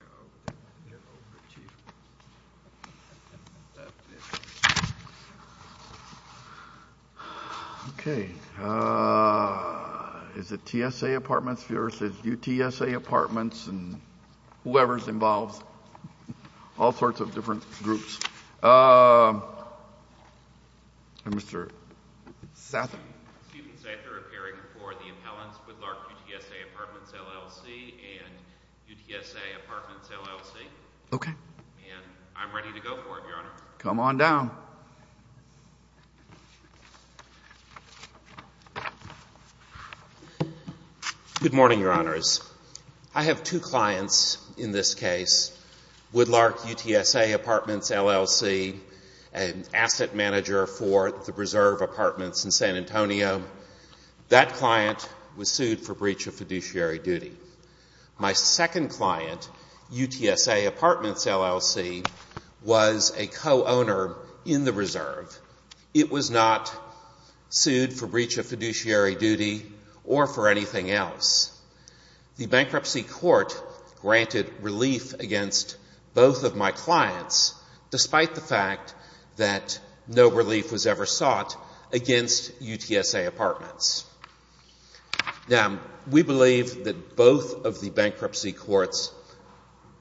UTSA Apartments, L.L.C. v. UTSA Apartments UTSA Apartments, L.L.C. Okay. And I'm ready to go for it, Your Honor. Come on down. Good morning, Your Honors. I have two clients in this case. Woodlark UTSA Apartments, L.L.C., an asset manager for the preserve apartments in San Antonio. That client was sued for breach of fiduciary duty. My second client, UTSA Apartments, L.L.C., was a co-owner in the reserve. It was not sued for breach of fiduciary duty or for anything else. The bankruptcy court granted relief against both of my clients despite the fact that no relief was ever sought against UTSA Apartments. Now, we believe that both of the bankruptcy court's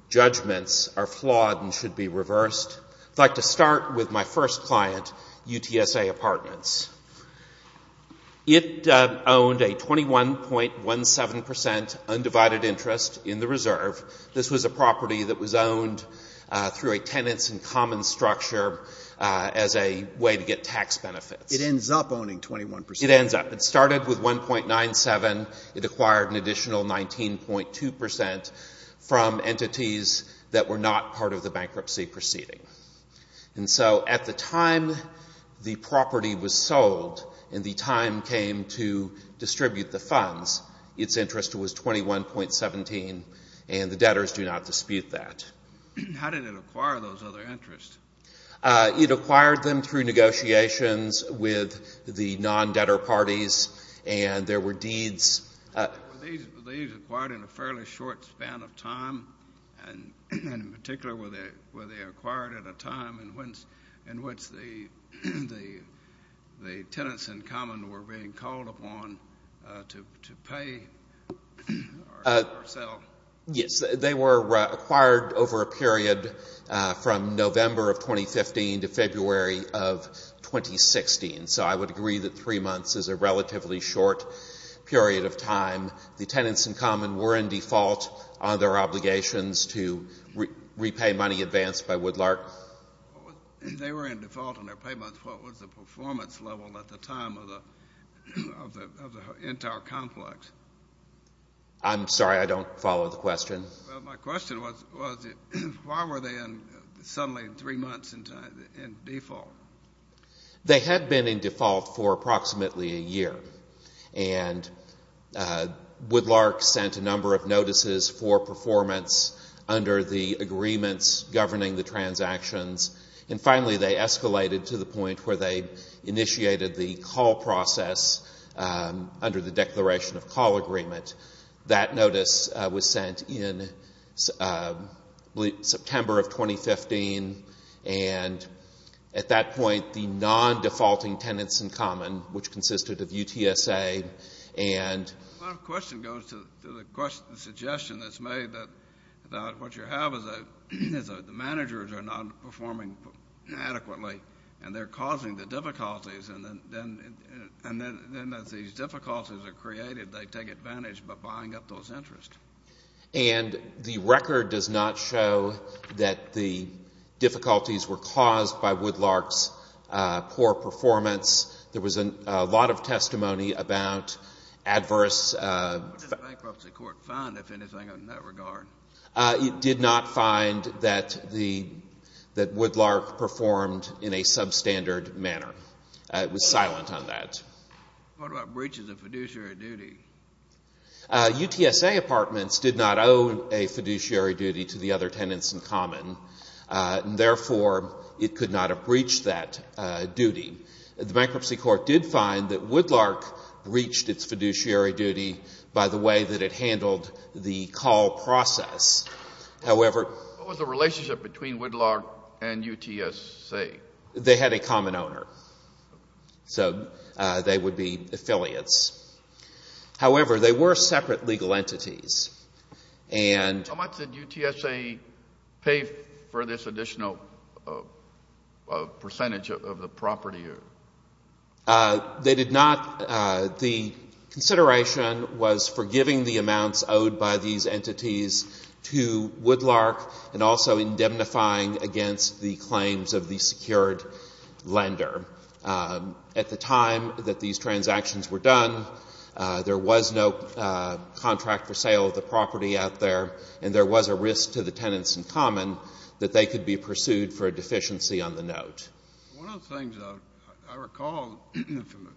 judgments are flawed and should be reversed. I'd like to start with my first client, UTSA Apartments. It owned a 21.17 percent undivided interest in the reserve. This was a property that was sold. It ends up owning 21 percent. It ends up. It started with 1.97. It acquired an additional 19.2 percent from entities that were not part of the bankruptcy proceeding. And so at the time the property was sold and the time came to distribute the funds, its interest was 21.17 and the debtors do not dispute that. How did it acquire those other interests? It acquired them through negotiations with the non-debtor parties and there were deeds. Were these acquired in a fairly short span of time? And in particular, were they acquired at a time in which the tenants in common were being called upon to pay or sell? They were acquired over a period from November of 2015 to February of 2016. So I would agree that three months is a relatively short period of time. The tenants in common were in default on their obligations to repay money advanced by Woodlark. They were in default on their payments. What was the performance level at the time of the entire complex? I'm sorry, I don't follow the question. Well, my question was, why were they suddenly in three months in default? They had been in default for approximately a year. And Woodlark sent a number of notices for performance under the agreements governing the transactions. And finally they escalated to the point where they initiated the call process under the Declaration of Call Agreement. That notice was sent in September of 2015. And at that point the non-defaulting tenants in common, which consisted of UTSA and My question goes to the suggestion that's made that what you have is the managers are not performing adequately and they're causing the difficulties. And then as these difficulties are created, they take advantage by buying up those interests. And the record does not show that the difficulties were caused by Woodlark's poor performance. There was a lot of testimony about adverse What does the bankruptcy court find, if anything, in that regard? It did not find that Woodlark performed in a substandard manner. It was silent on that. What about breaches of fiduciary duty? UTSA apartments did not owe a fiduciary duty to the other tenants in common. And therefore it could not have breached that duty. The bankruptcy court did find that Woodlark breached its fiduciary duty by the way that it handled the call process. What was the relationship between Woodlark and UTSA? They had a common owner. So they would be affiliates. However, they were separate legal entities. How much did UTSA pay for this additional percentage of the property? They did not. The consideration was for giving the amounts owed by these entities to Woodlark and also indemnifying against the claims of the secured lender. At the time that these transactions were done, there was no contract for sale of the property out there, and there was a risk to the tenants in common that they could be pursued for a deficiency on the note. One of the things I recall from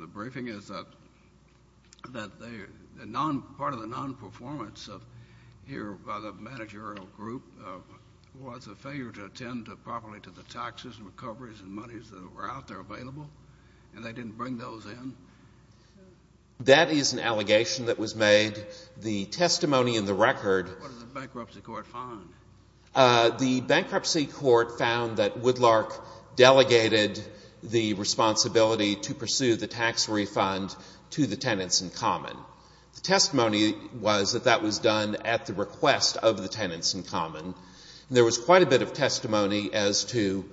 the briefing is that part of the non-performance here by the managerial group was a failure to attend properly to the taxes and recoveries and monies that were out there available, and they didn't bring those in. That is an allegation that was made. The testimony in the record What did the bankruptcy court find? The bankruptcy court found that Woodlark delegated the responsibility to pursue the tax refund to the tenants in common. The testimony was that that was done at the request of the tenants in common. There was quite a bit of testimony as to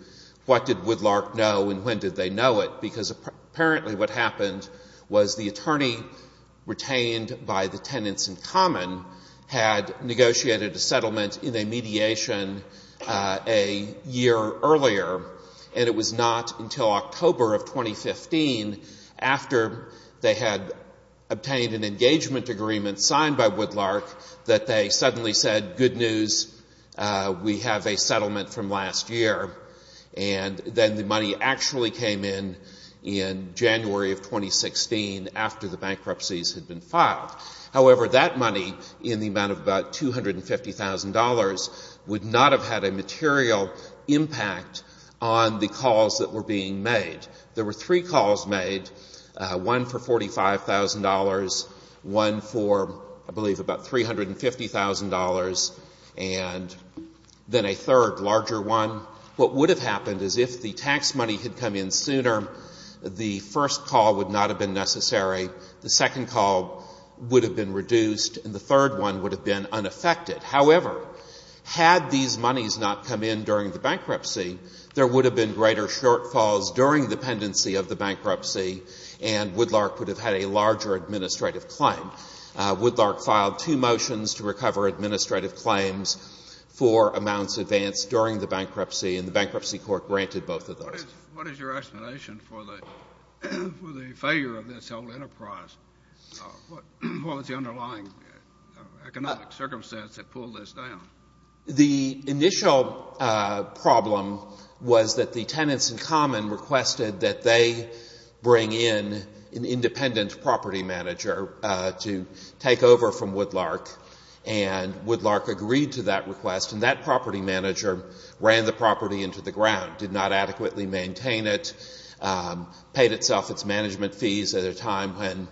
what did Woodlark know and when did they know it, because apparently what happened was the attorney retained by the tenants in common had negotiated a settlement in a mediation a year earlier, and it was not until October of 2015 after they had obtained an engagement agreement signed by Woodlark that they suddenly said, good news, we have a settlement from last year, and then the money actually came in in January of 2016 after the bankruptcies had been filed. However, that money in the amount of about $250,000 would not have had a material impact on the calls that were being made. There were three calls made, one for $45,000, one for I believe about $350,000, and then a third larger one. What would have happened is if the tax money had come in sooner, the first call would not have been necessary, the second call would have been reduced, and the third one would have been unaffected. However, had these monies not come in during the bankruptcy, there would have been greater shortfalls during the pendency of the bankruptcy, and Woodlark would have had a larger administrative claim. Woodlark filed two motions to recover administrative claims for amounts advanced during the bankruptcy, and the Bankruptcy Court granted both of those. What is your explanation for the failure of this whole enterprise? What was the underlying economic circumstance that pulled this down? The initial problem was that the Tenants in Common requested that they bring in an independent property manager to take over from Woodlark, and Woodlark agreed to that request, and that they would adequately maintain it, paid itself its management fees at a time when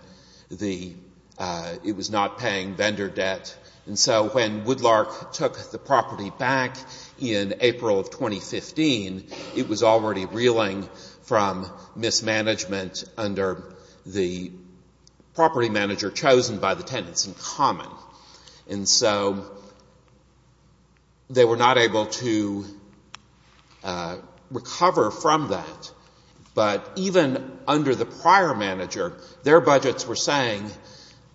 it was not paying vendor debt. And so when Woodlark took the property back in April of 2015, it was already reeling from mismanagement under the property manager chosen by the Tenants in Common. And so they were not able to recover the property, and they were not able to pay vendor from that. But even under the prior manager, their budgets were saying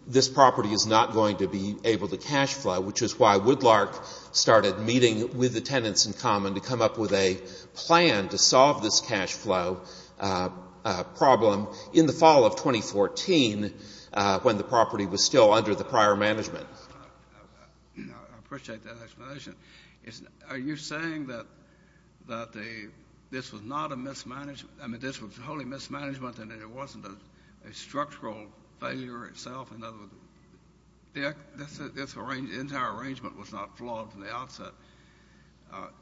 this property is not going to be able to cash flow, which is why Woodlark started meeting with the Tenants in Common to come up with a plan to solve this cash flow problem in the fall of 2014 when the property was still under the prior management. I appreciate that explanation. Are you saying that this was not a mismanagement? I mean, this was wholly mismanagement, and it wasn't a structural failure itself? In other words, this entire arrangement was not flawed from the outset,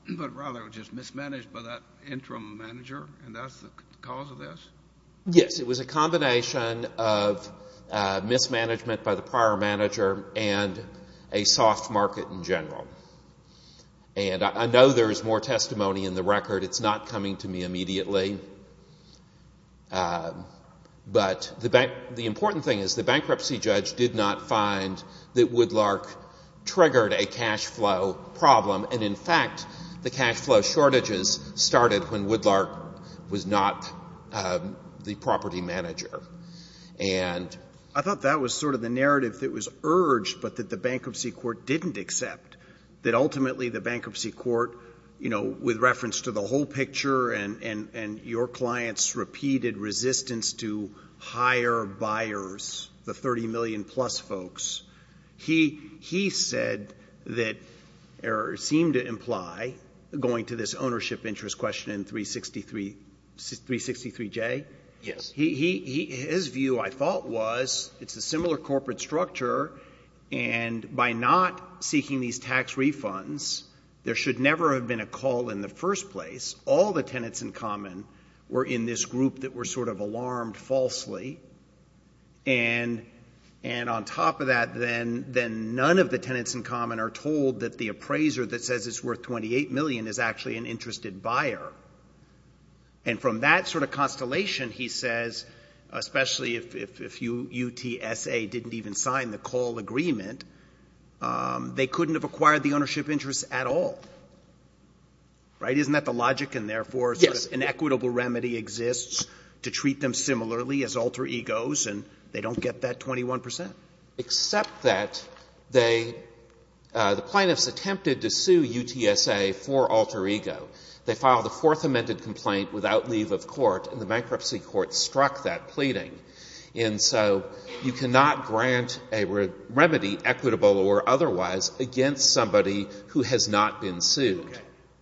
but rather it was just mismanaged by that interim manager, and that's the cause of this? Yes, it was a combination of mismanagement by the prior manager and a soft market in general. And I know there is more testimony in the record. It's not coming to me immediately. But the important thing is the bankruptcy judge did not find that Woodlark triggered a cash flow problem. And in fact, the cash flow shortages started when Woodlark was not the property manager. I thought that was sort of the narrative that was urged but that the bankruptcy court didn't accept, that ultimately the bankruptcy court, you know, with reference to the whole picture and your client's repeated resistance to higher buyers, the 30 million plus folks, he said that or seemed to imply, going to this ownership interest question in 363J, that the bankruptcy judge, his view, I thought, was it's a similar corporate structure, and by not seeking these tax refunds, there should never have been a call in the first place. All the tenants in common were in this group that were sort of alarmed falsely. And on top of that, then none of the tenants in common are told that the appraiser that says it's worth 28 million is actually an interested buyer. And from that sort of constellation, he says, especially if UTSA didn't even sign the call agreement, they couldn't have acquired the ownership interest at all. Right? Isn't that the logic? And therefore, an equitable remedy exists to treat them similarly as alter egos, and they don't get that 21 percent. Except that they, the plaintiffs attempted to sue UTSA for alter ego. They filed a fourth amended complaint without leave of court, and the bankruptcy court struck that pleading. And so you cannot grant a remedy, equitable or otherwise, against somebody who has not been sued.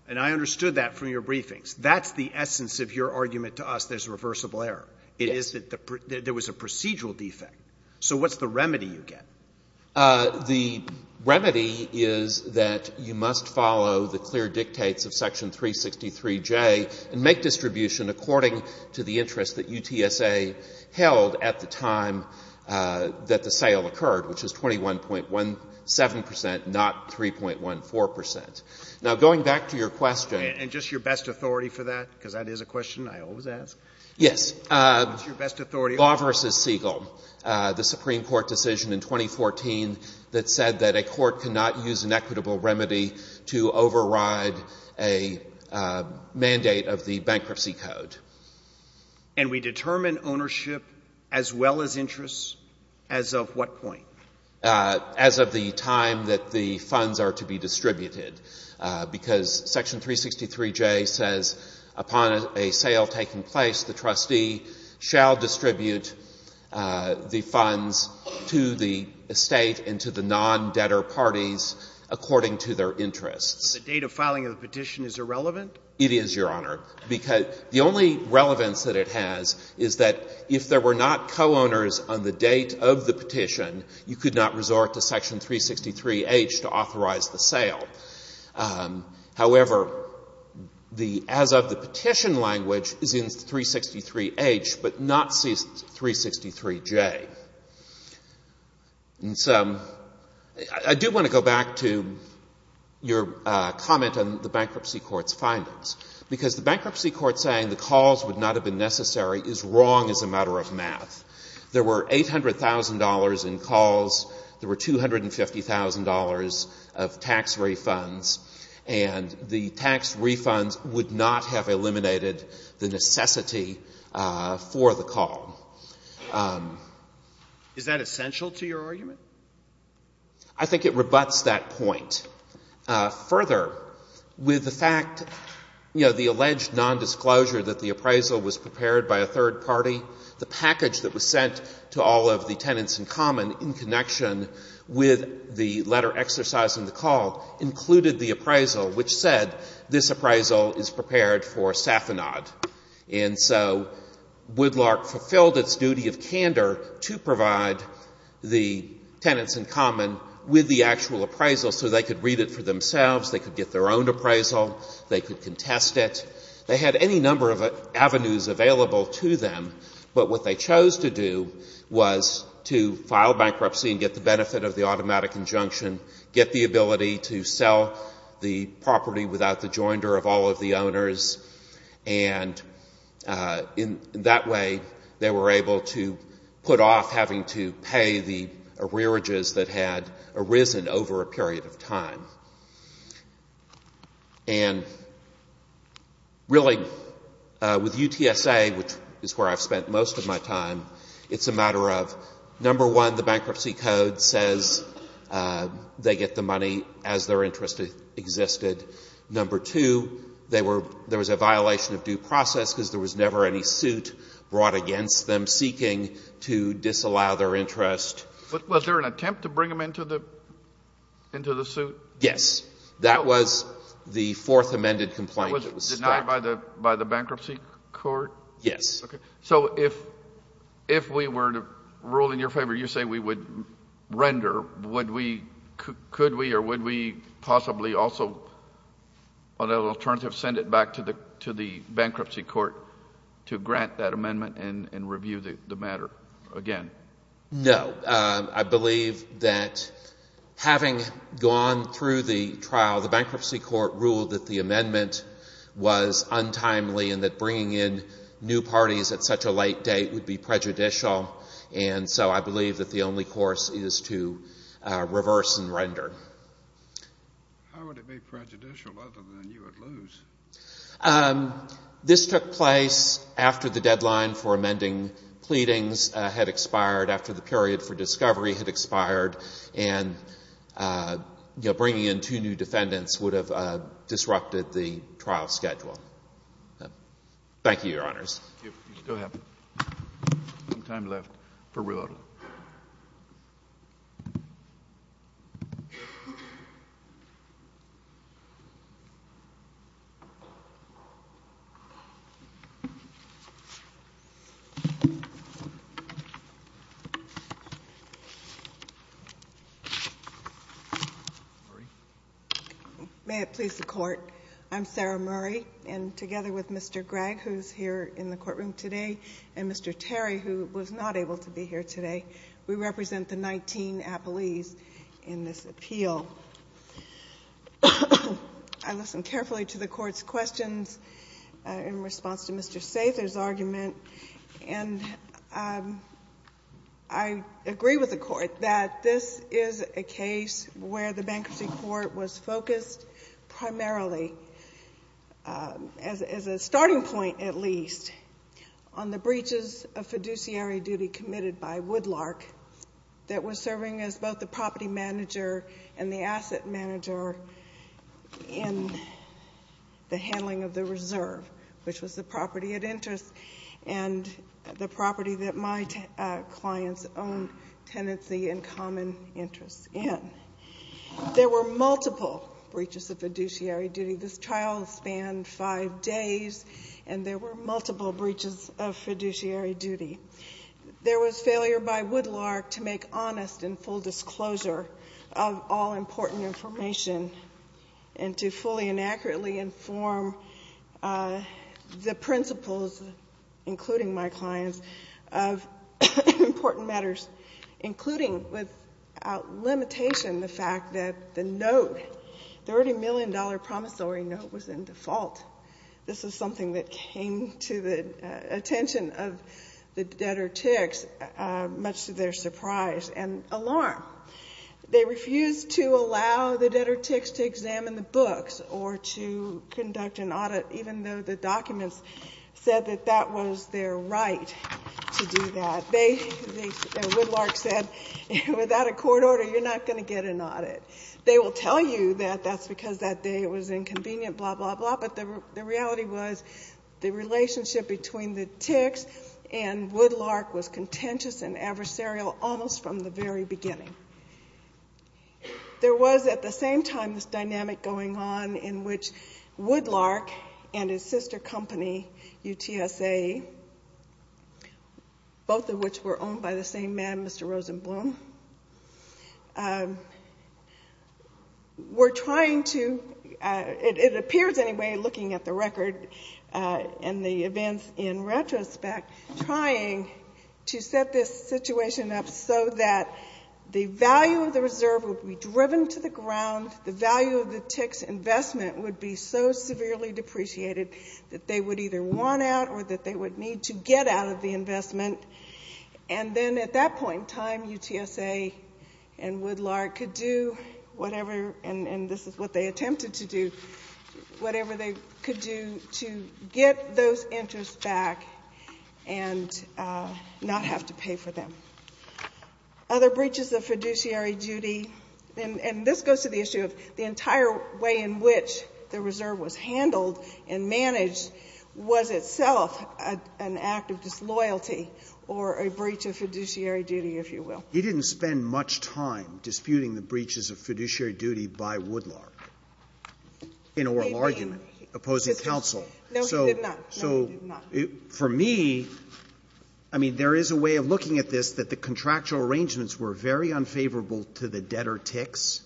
And I understood that from your briefings. That's the essence of your argument to us there's a reversible error. It is that there was a procedural defect. So what's the remedy you get? The remedy is that you must follow the clear dictates of Section 363J and make distribution according to the interest that UTSA held at the time that the sale occurred, which is 21.17 percent, not 3.14 percent. Now, going back to your question And just your best authority for that, because that is a question I always ask. Yes. What's your best authority? Law v. Siegel, the Supreme Court decision in 2014 that said that a court cannot use an equitable remedy to override a mandate of the bankruptcy code. And we determine ownership as well as interest as of what point? As of the time that the funds are to be distributed. Because Section 363J says, upon a sale taking place, the trustee shall distribute the funds to the estate and to the non-debtor parties according to their interests. But the date of filing of the petition is irrelevant? It is, Your Honor. Because the only relevance that it has is that if there were not co-owners on the date of the petition, you could not resort to Section 363H to authorize the sale. However, the as of the petition language is in 363H, but not 363J. And so I do want to go back to your comment on the bankruptcy court's findings. Because the bankruptcy court saying the calls would not have been necessary is wrong as a matter of math. There were $800,000 in calls. There were $250,000 of tax refunds. And the tax refunds would not have eliminated the necessity for the call. Is that essential to your argument? I think it rebuts that point. Further, with the fact, you know, the alleged nondisclosure that the appraisal was prepared by a third party, the package that was sent to all of the tenants in common in connection with the letter exercising the call included the appraisal which said this appraisal is prepared for Safanad. And so Woodlark fulfilled its duty of candor to provide the tenants in common with the actual appraisal so they could read it for themselves, they could get their own appraisal, they could contest it. They had any number of avenues available to them, but what they chose to do was to file bankruptcy and get the benefit of the automatic injunction, get the ability to sell the property without the joinder of all of the owners, and in that way they were able to put off having to pay the arrearages that had arisen over a period of time. And really, with UTSA, which is where I've spent most of my time, it's a matter of, number one, the bankruptcy code says they get the money as their interest existed. Number two, they were, there was a violation of due process because there was never any suit brought against them seeking to disallow their interest. But was there an attempt to bring them into the suit? Yes. That was the fourth amended complaint. Was it denied by the bankruptcy court? Yes. So if we were to rule in your favor, you say we would render, would we, could we or would we possibly also, on an alternative, send it back to the bankruptcy court to grant that amendment and review the matter again? No. I believe that having gone through the trial, the bankruptcy court ruled that the amendment was untimely and that bringing in new parties at such a late date would be prejudicial, and so I believe that the only course is to reverse and render. How would it be prejudicial other than you would lose? This took place after the deadline for amending pleadings had expired, after the period for discovery had expired, and, you know, bringing in two new defendants would have disrupted the trial schedule. Thank you, Your Honors. You still have some time left for rebuttal. May it please the Court. I'm Sarah Murray, and together with Mr. Gregg, who is here in the courtroom today, and Mr. Terry, who was not able to be here today, we represent the 19 appellees in this appeal. I listened carefully to the Court's questions in response to Mr. Sather's argument, and I agree with the Court that this is a case where the bankruptcy court was focused primarily as a starting point, at least, on the breaches of fiduciary duty committed by Woodlark that was serving as both the property manager and the asset manager in the handling of the reserve, which was the property of interest and the property that my client's own tenancy and common interest in. There were multiple breaches of fiduciary duty. This trial spanned five days, and there were multiple breaches of fiduciary duty. There was failure by Woodlark to make honest and full disclosure of all important information and to fully and accurately inform the principles, including my client's, of important matters, including without limitation the fact that the note, the $30 million promissory note, was in default. This is something that came to the attention of the debtor ticks, much to their surprise and alarm. They refused to allow the debtor ticks to examine the books or to conduct an audit, even though the documents said that that was their right to do that. Woodlark said, without a court order, you're not going to get an audit. They will tell you that that's because that day it was inconvenient, blah, blah, blah, but the reality was the relationship between the ticks and Woodlark was contentious and adversarial almost from the very beginning. There was at the same time this dynamic going on in which Woodlark and his sister company, UTSA, both of which were owned by the same man, Mr. Rosenblum, were trying to, it appears anyway looking at the record and the events in retrospect, trying to set this situation up so that the value of the reserve would be driven to the ground, the value of the reserve would be won out or that they would need to get out of the investment. And then at that point in time, UTSA and Woodlark could do whatever, and this is what they attempted to do, whatever they could do to get those interests back and not have to pay for them. Other breaches of fiduciary duty, and this goes to the issue of the entire way in which the reserve was handled and managed was itself an act of disloyalty or a breach of fiduciary duty, if you will. He didn't spend much time disputing the breaches of fiduciary duty by Woodlark in oral argument, opposing counsel. No, he did not. So for me, I mean, there is a way of looking at this that the contractual arrangements were very unfavorable to the debtor ticks,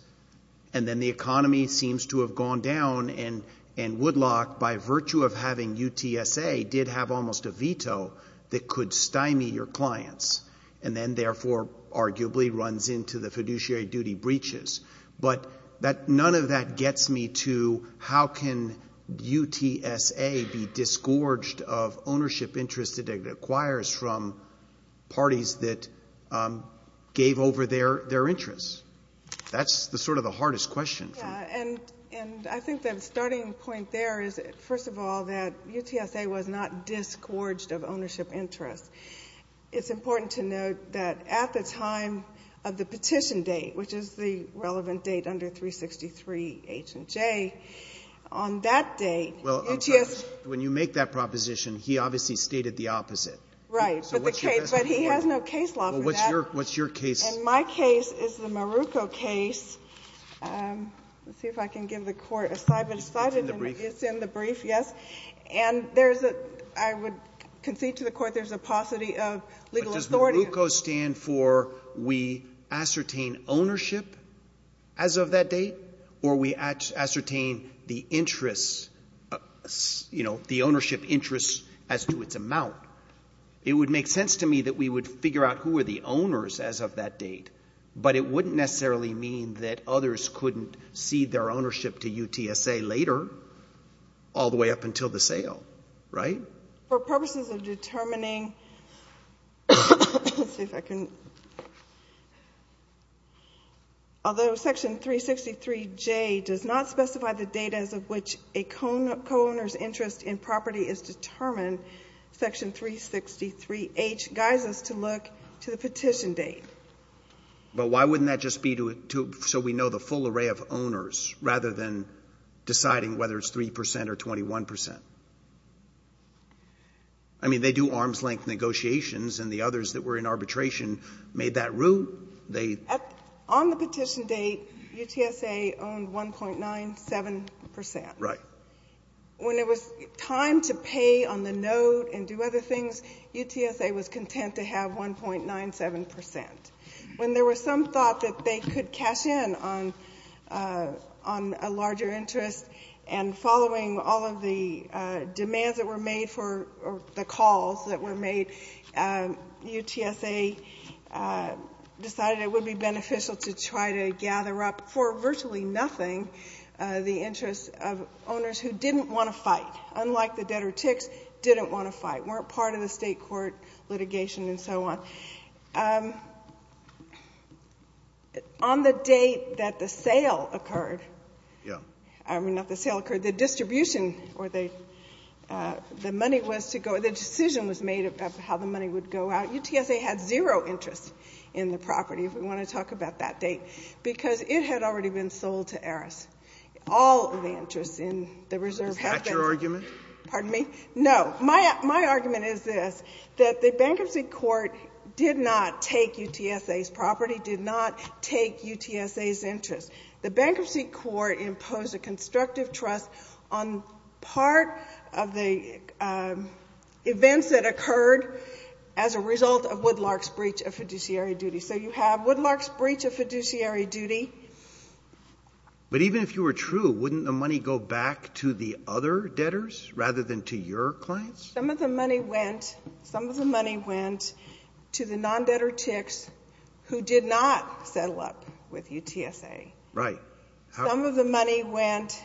and then the economy seems to have gone down and Woodlark, by virtue of having UTSA, did have almost a veto that could stymie your clients and then, therefore, arguably runs into the fiduciary duty breaches. But none of that gets me to how can UTSA be disgorged of ownership interests it acquires from parties that gave over their interests. That's sort of the hardest question. And I think that the starting point there is, first of all, that UTSA was not disgorged of ownership interests. It's important to note that at the time of the petition date, which is the relevant date under 363H and J, on that date, UTSA... But he has no case law for that. And my case is the Maruco case. Let's see if I can give the Court a slide, but it's in the brief, yes. And there's a — I would concede to the Court there's a paucity of legal authority. But does Maruco stand for we ascertain ownership as of that date, or we ascertain the interests, you know, the ownership interests as to its amount? It would make sense to me that we would figure out who were the owners as of that date, but it wouldn't necessarily mean that others couldn't cede their ownership to UTSA later, all the way up until the sale, right? For purposes of determining — let's see if I can — although Section 363J does not 363H — guides us to look to the petition date. But why wouldn't that just be to — so we know the full array of owners, rather than deciding whether it's 3 percent or 21 percent? I mean, they do arm's-length negotiations, and the others that were in arbitration made that route. They — On the petition date, UTSA owned 1.97 percent. Right. When it was time to pay on the note and do other things, UTSA was content to have 1.97 percent. When there was some thought that they could cash in on a larger interest, and following all of the demands that were made for — or the calls that were made, UTSA decided it would be beneficial to try to gather up for virtually nothing the interests of owners who didn't want to fight, unlike the debtor ticks, didn't want to fight, weren't part of the state court litigation, and so on. On the date that the sale occurred — Yeah. I mean, not the sale occurred, the distribution, or the money was to go — the decision was made about how the money would go out. UTSA had zero interest in the property, if we want to talk about that date, because it had already been sold to Eris. All of the interests in the reserve — Is that your argument? Pardon me? No. My argument is this, that the bankruptcy court did not take UTSA's property, did not take UTSA's interest. The bankruptcy court imposed a constructive trust on part of the events that occurred as a result of Woodlark's breach of fiduciary duty. So you have Woodlark's breach of fiduciary duty — But even if you were true, wouldn't the money go back to the other debtors rather than to your clients? Some of the money went — some of the money went to the non-debtor ticks who did not settle up with UTSA. Right. Some of the money went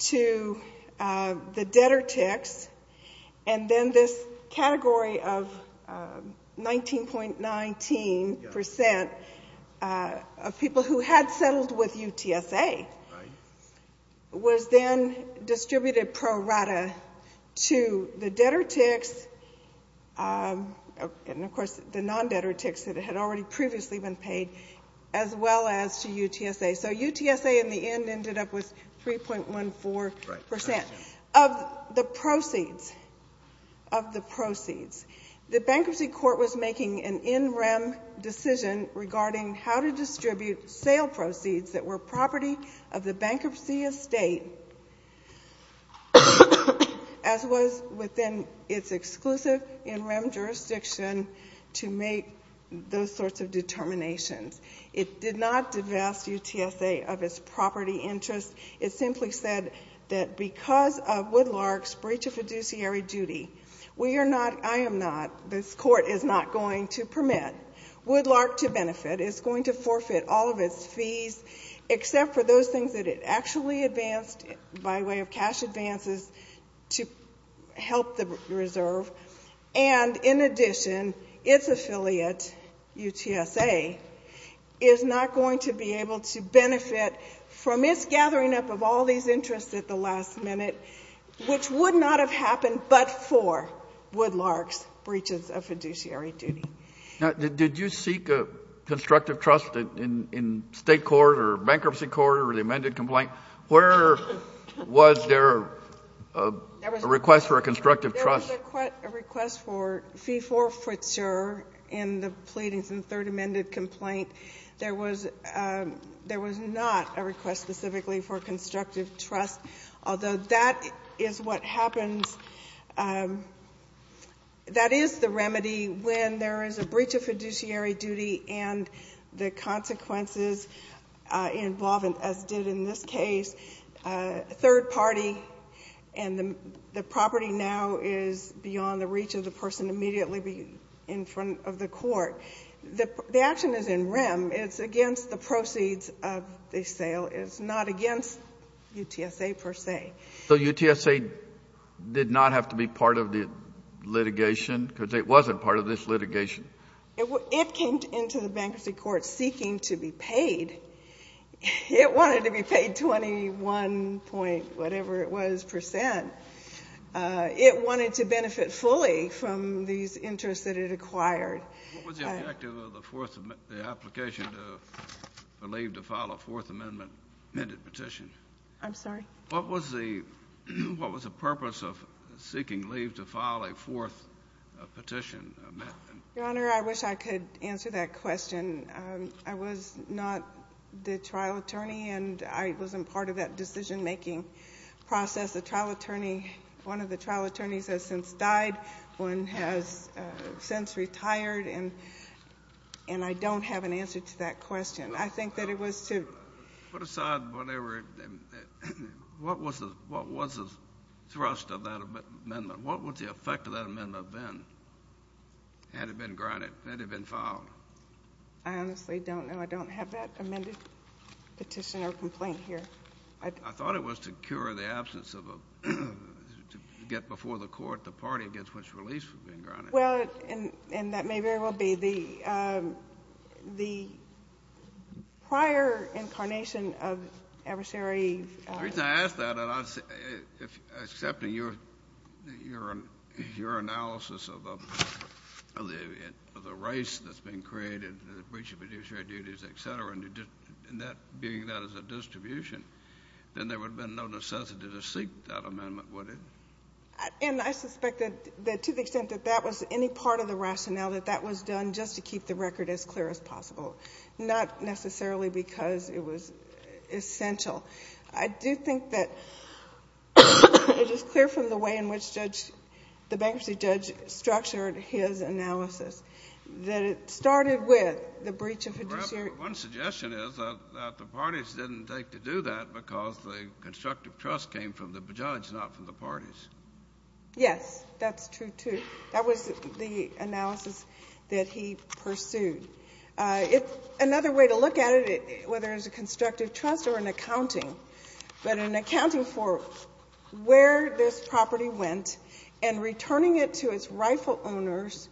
to the debtor ticks, and then this category of 19.19 percent of people who had settled with UTSA was then distributed pro rata to the debtor ticks and, of course, the non-debtor ticks that had already previously been paid, as well as to UTSA. So UTSA, in the end, ended up with 3.14 percent of the proceeds — of the proceeds. The bankruptcy court was making an in-rem decision regarding how to distribute sale proceeds that were property of the bankruptcy estate, as was within its exclusive in-rem jurisdiction to make those sorts of determinations. It did not divest UTSA of its property interest. It simply said that because of Woodlark's breach of fiduciary duty, we are not — I am not — this court is not going to permit Woodlark to benefit. It's going to forfeit all of its fees except for those things that it actually advanced by way of cash advances to help the reserve. And in addition, its affiliate, UTSA, is not going to be able to benefit from its gathering up of all these interests at the last minute, which would not have happened but for Woodlark's breaches of fiduciary duty. Now, did you seek a constructive trust in state court or bankruptcy court or the amended complaint? Where was there a request for a constructive trust? There was a request for fee forfeiture in the pleadings in the third amended complaint. There was — there was not a request specifically for constructive trust, although that is what happens — that is the remedy when there is a breach of fiduciary duty and the consequences involved, as did in this case, third party and the property now is beyond the reach of the person immediately in front of the court. The action is in REM. It's against the proceeds of the sale. It's not against UTSA per se. So UTSA did not have to be part of the litigation because it wasn't part of this litigation? It came into the bankruptcy court seeking to be paid. It wanted to be paid 21 point whatever it was percent. It wanted to benefit fully from these interests that it acquired. What was the objective of the fourth — the application to leave to file a fourth amendment amended petition? I'm sorry? What was the — what was the purpose of seeking leave to file a fourth petition amendment? Your Honor, I wish I could answer that question. I was not the trial attorney and I wasn't part of that decision-making process. The trial attorney — one of the trial attorneys has since died, one has since retired, and I don't have an answer to that question. I think that it was to — Put aside whatever — what was the thrust of that amendment? What would the effect of that amendment have been had it been grounded, had it been filed? I honestly don't know. I don't have that amended petition or complaint here. I thought it was to cure the absence of a — to get before the court the party against which release had been grounded. Well, and that may very well be the — the prior incarnation of adversary — The reason I ask that, and I — if — excepting your — your analysis of the — of the race that's been created, the breach of fiduciary duties, et cetera, and that being that as a distribution, then there would have been no necessity to seek that amendment, would it? And I suspect that — that to the extent that that was any part of the rationale, that that was done just to keep the record as clear as possible, not necessarily because it was essential. I do think that it is clear from the way in which Judge — the bankruptcy judge structured his analysis that it started with the breach of fiduciary — Well, one suggestion is that the parties didn't take to do that because the constructive trust came from the judge, not from the parties. Yes, that's true, too. That was the analysis that he pursued. It — another way to look at it, whether it's a constructive trust or an accounting, but an accounting for where this property went and returning it to its rightful owners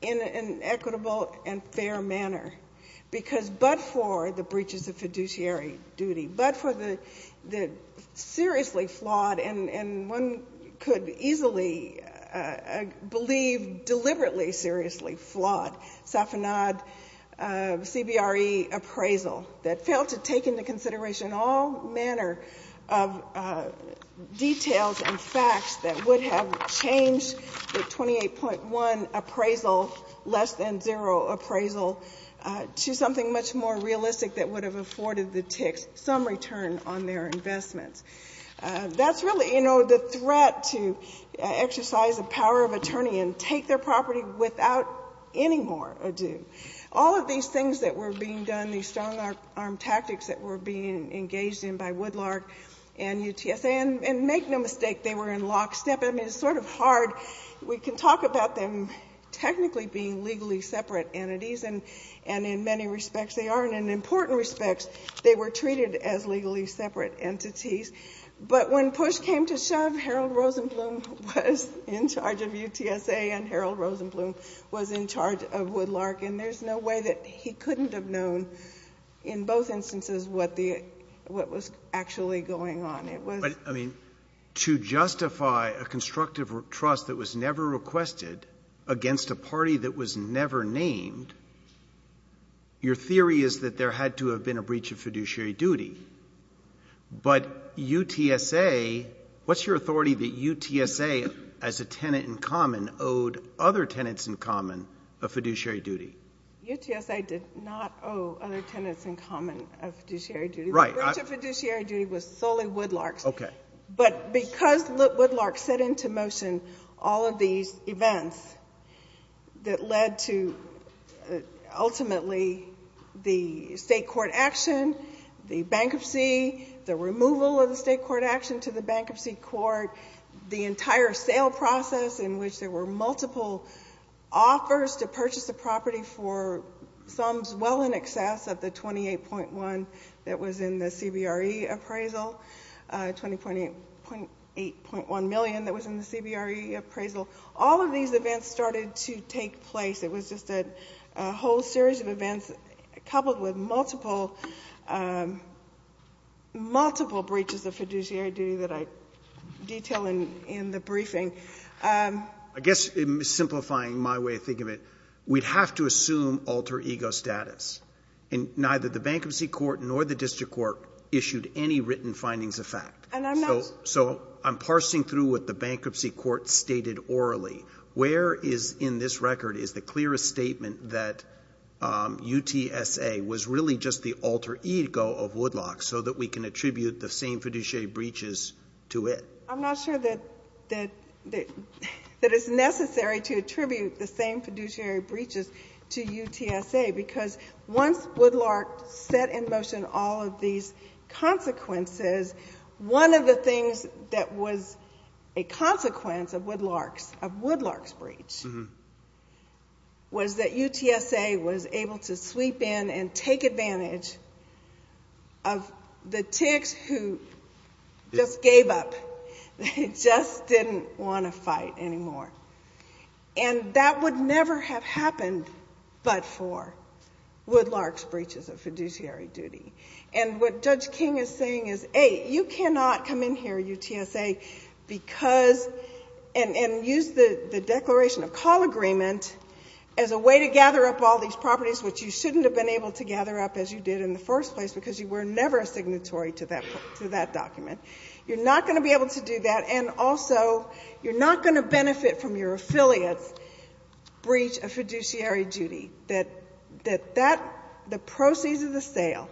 in an equitable and fair manner because but for the breaches of fiduciary duty, but for the seriously flawed and one could easily believe deliberately seriously flawed Safanad CBRE appraisal that failed to take into consideration all manner of details and facts that would have changed the 28.1 appraisal, less than zero appraisal, to something much more realistic that would have afforded the ticks some return on their investments. That's really, you know, the threat to exercise the power of attorney and take their property without any more ado. All of these things that were being done, these strong-arm tactics that were being engaged in by Woodlark and UTSA, and make no mistake, they were in lockstep. I mean, it's sort of hard. We can talk about them technically being legally separate entities, and in many respects they are, and in important respects, they were treated as legally separate entities. But when push came to shove, Harold Rosenblum was in charge of UTSA and Harold Rosenblum was in charge of Woodlark, and there's no way that he couldn't have known in both instances what the — what was actually going on. But, I mean, to justify a constructive trust that was never requested against a party that was never named, your theory is that there had to have been a breach of fiduciary duty. But UTSA — what's your authority that UTSA, as a tenant in common, owed other tenants in common a fiduciary duty? UTSA did not owe other tenants in common a fiduciary duty. The breach of fiduciary duty was solely Woodlark's. But because Woodlark set into motion all of these events that led to, ultimately, the state court action, the bankruptcy, the removal of the state court action to the bankruptcy court, the entire sale process in which there were multiple offers to purchase a property for sums well in excess of the $28.1 million that was in the CBRE appraisal, $28.1 million that was in the CBRE appraisal, all of these events started to take place. It was just a whole series of events coupled with multiple breaches of fiduciary duty that I detail in the briefing. I guess, simplifying my way of thinking of it, we'd have to assume alter ego status. And neither the bankruptcy court nor the district court issued any written findings of fact. So I'm parsing through what the bankruptcy court stated orally. Where is, in this record, is the clearest statement that UTSA was really just the alter ego of Woodlark so that we can attribute the same fiduciary breaches to it? I'm not sure that it's necessary to attribute the same fiduciary breaches to UTSA. Because once Woodlark set in motion all of these consequences, one of the things that was a consequence of Woodlark's breach was that UTSA was able to sweep in and take advantage of the ticks who just gave up. They just didn't want to fight anymore. And that would never have happened but for Woodlark's breaches of fiduciary duty. And what Judge King is saying is, hey, you cannot come in here, UTSA, and use the declaration of call agreement as a way to gather up all these properties which you shouldn't have been able to gather up as you did in the first place because you were never a signatory to that document. You're not going to be able to do that. And also, you're not going to benefit from your affiliate's breach of fiduciary duty. The proceeds of the sale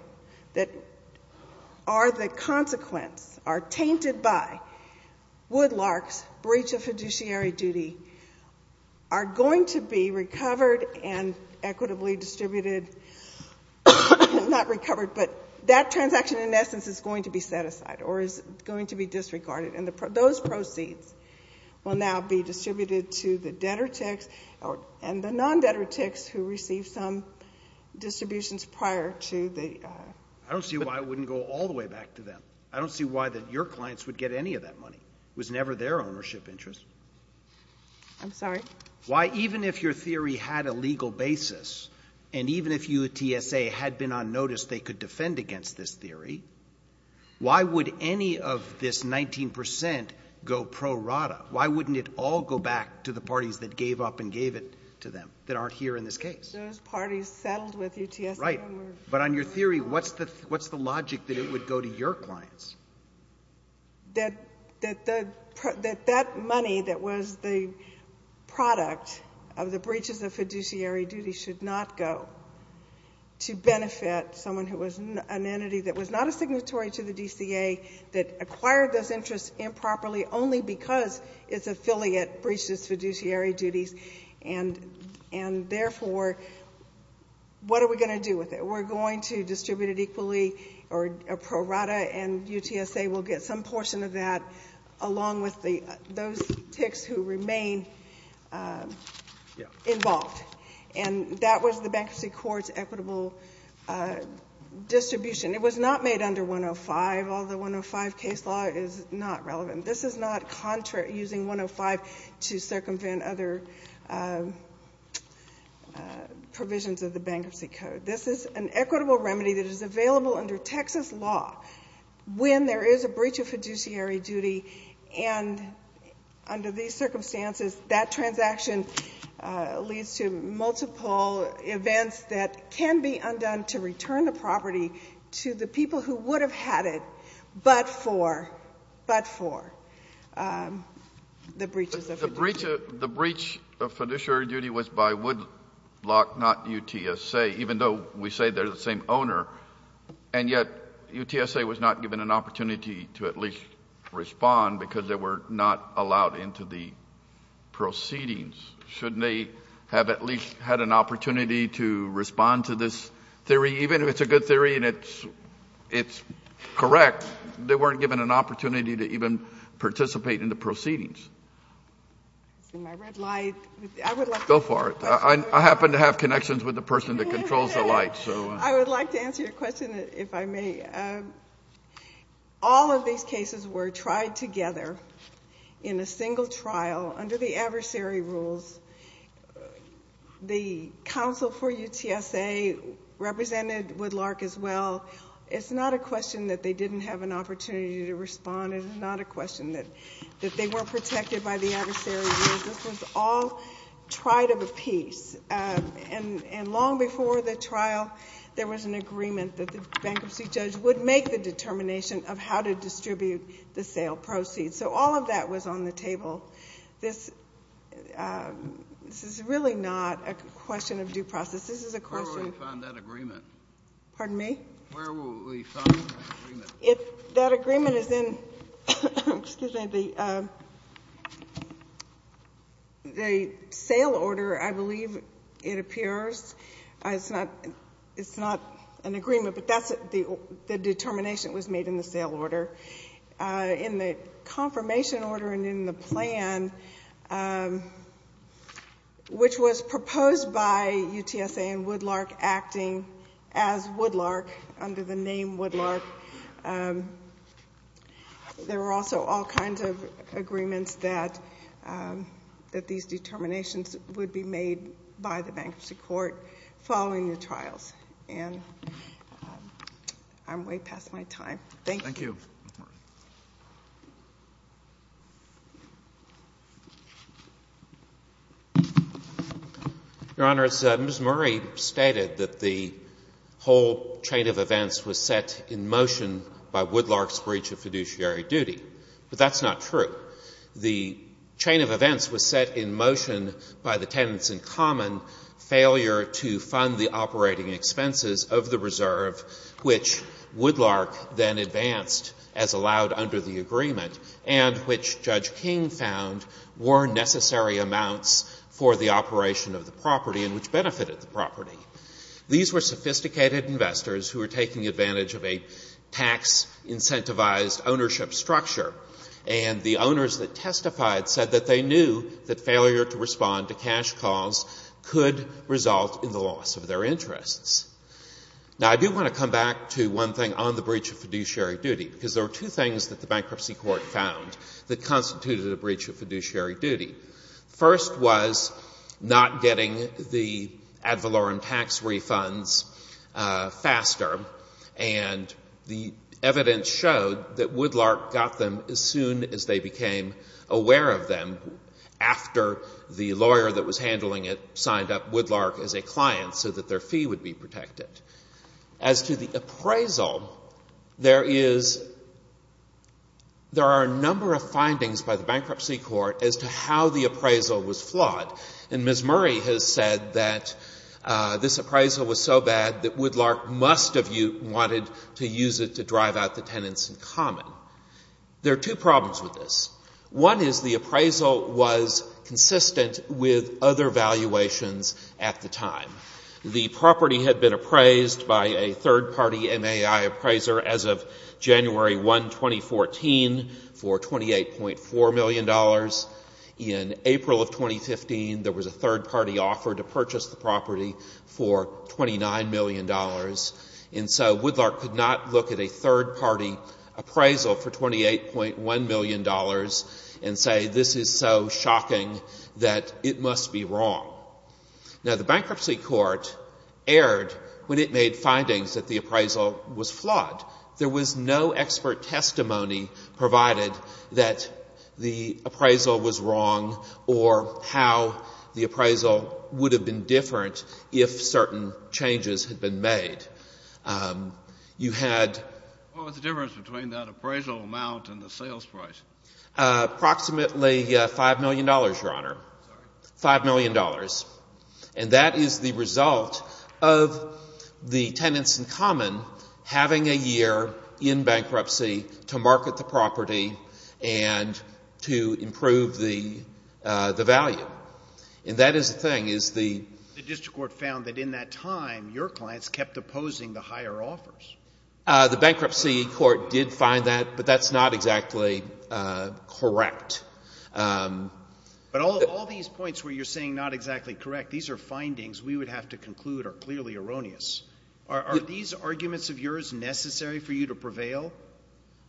that are the consequence, are tainted by Woodlark's breach of fiduciary duty, are going to be recovered and equitably distributed. Not recovered, but that transaction in essence is going to be set aside or is going to be disregarded. And those proceeds will now be distributed to the debtor ticks and the non-debtor ticks who received some distributions prior to the... I don't see why it wouldn't go all the way back to them. I don't see why your clients would get any of that money. It was never their ownership interest. I'm sorry? Why even if your theory had a legal basis and even if UTSA had been on notice they could defend against this theory, why would any of this 19% go pro rata? Why wouldn't it all go back to the parties that gave up and gave it to them that aren't here in this case? Those parties settled with UTSA. Right. But on your theory, what's the logic that it would go to your clients? That that money that was the product of the breaches of fiduciary duty should not go to benefit someone who was an entity that was not a signatory to the DCA that acquired those interests improperly only because its affiliate breached its fiduciary duties and therefore what are we going to do with it? We're going to distribute it equally or pro rata and UTSA will get some portion of that along with those ticks who remain involved. And that was the Bankruptcy Court's equitable distribution. It was not made under 105, although 105 case law is not relevant. This is not using 105 to circumvent other provisions of the Bankruptcy Code. This is an equitable remedy that is available under Texas law when there is a breach of fiduciary duty and under these circumstances that transaction leads to multiple events that can be undone to return the property to the people who would have had it but for the breaches of fiduciary duty. The breach of fiduciary duty was by Woodlock, not UTSA even though we say they're the same owner and yet UTSA was not given an opportunity to at least respond because they were not allowed into the proceedings. Shouldn't they have at least had an opportunity to respond to this theory even if it's a good theory and it's correct they weren't given an opportunity to even participate in the proceedings. Go for it. I happen to have connections with the person that controls the lights. I would like to answer your question if I may. All of these cases were tried together in a single trial under the adversary rules. The counsel for UTSA represented Woodlock as well. It's not a question that they didn't have an opportunity to respond. It's not a question that they weren't protected by the adversary rules. This was all tried of a piece and long before the trial there was an agreement that the bankruptcy judge would make the determination of how to distribute the sale proceeds. All of that was on the table. This is really not a question of due process. Where will we find that agreement? Pardon me? That agreement is in the sale order, I believe it appears. It's not an agreement but the determination was made in the sale order. In the confirmation order and in the plan which was proposed by UTSA and Woodlark acting as Woodlark under the name Woodlark there were also all kinds of agreements that these determinations would be made by the bankruptcy court following the trials. I'm way past my time. Thank you. Your Honor, Ms. Murray stated that the whole chain of events was set in motion by Woodlark's breach of fiduciary duty but that's not true. The chain of events was set in motion by the tenants in common failure to fund the operating expenses of the reserve which Woodlark then advanced as allowed under the agreement and which Judge King found were necessary amounts for the operation of the property and which benefited the property. These were sophisticated investors who were taking advantage of a tax-incentivized ownership structure and the owners that testified said that they knew that failure to respond to cash calls could result in the loss of their interests. Now I do want to come back to one thing on the breach of fiduciary duty because there were two things that the bankruptcy court found that constituted a breach of fiduciary duty. First was not getting the ad valorem tax refunds faster and the evidence showed that Woodlark got them as soon as they became aware of them after the lawyer that was handling it signed up Woodlark as a client so that their fee would be protected. As to the appraisal, there are a number of findings by the bankruptcy court as to how the appraisal was flawed and Ms. Murray has said that this appraisal was so bad that Woodlark must have wanted to use it to drive out the tenants in common. There are two problems with this. One is the appraisal was consistent with other valuations at the time. The property had been appraised by a third-party MAI appraiser as of January 1, 2014 for $28.4 million. In April of 2015, there was a third-party offer to purchase the property for $29 million and so Woodlark could not look at a third-party appraisal for $28.1 million and say this is so shocking that it must be wrong. Now the bankruptcy court erred when it made findings that the appraisal was flawed. There was no expert testimony provided that the appraisal was wrong or how the appraisal would have been different if certain changes had been made. What was the difference between that appraisal amount and the sales price? Approximately $5 million and that is the result of in bankruptcy to market the property and to improve the value. The district court found that in that time your clients kept opposing the higher offers. The bankruptcy court did find that but that's not exactly correct. But all these points where you're saying not exactly correct, these are findings we would have to conclude are clearly erroneous. Are these arguments of yours necessary for you to prevail?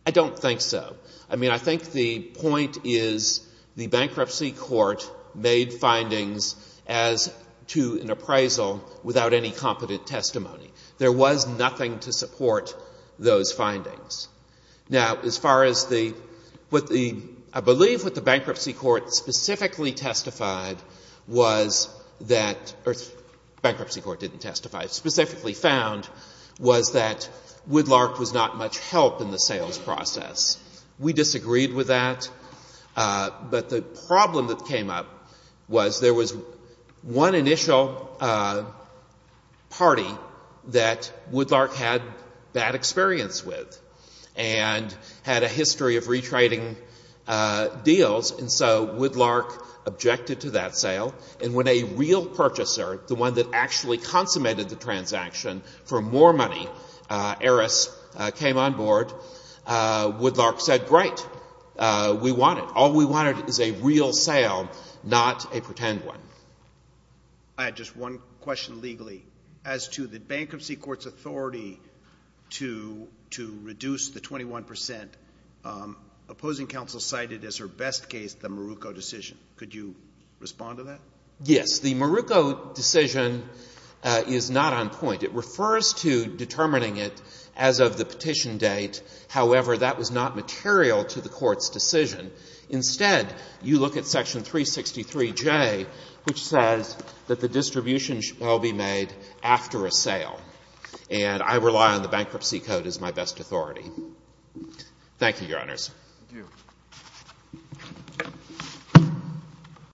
I don't think so. I think the point is the bankruptcy court made findings as to an appraisal without any competent testimony. There was nothing to support those findings. Now as far as the I believe what the bankruptcy court specifically testified was that bankruptcy court didn't testify was that Woodlark was not much help in the sales process. We disagreed with that but the problem that came up was there was one initial party that Woodlark had bad experience with and had a history of retrading deals and so Woodlark objected to that sale and when a real purchaser the one that actually consummated the transaction for more money, Eris, came on board Woodlark said great, we want it all we want is a real sale not a pretend one. I had just one question legally as to the bankruptcy court's authority to reduce the 21% Opposing counsel cited as her best case the Maruko decision. Could you respond to that? Yes. The Maruko decision is not on point. It refers to determining it as of the petition date however that was not material to the court's decision instead you look at section 363J which says that the distribution shall be made after a sale and I rely on the bankruptcy code as my best authority. Thank you, your honors.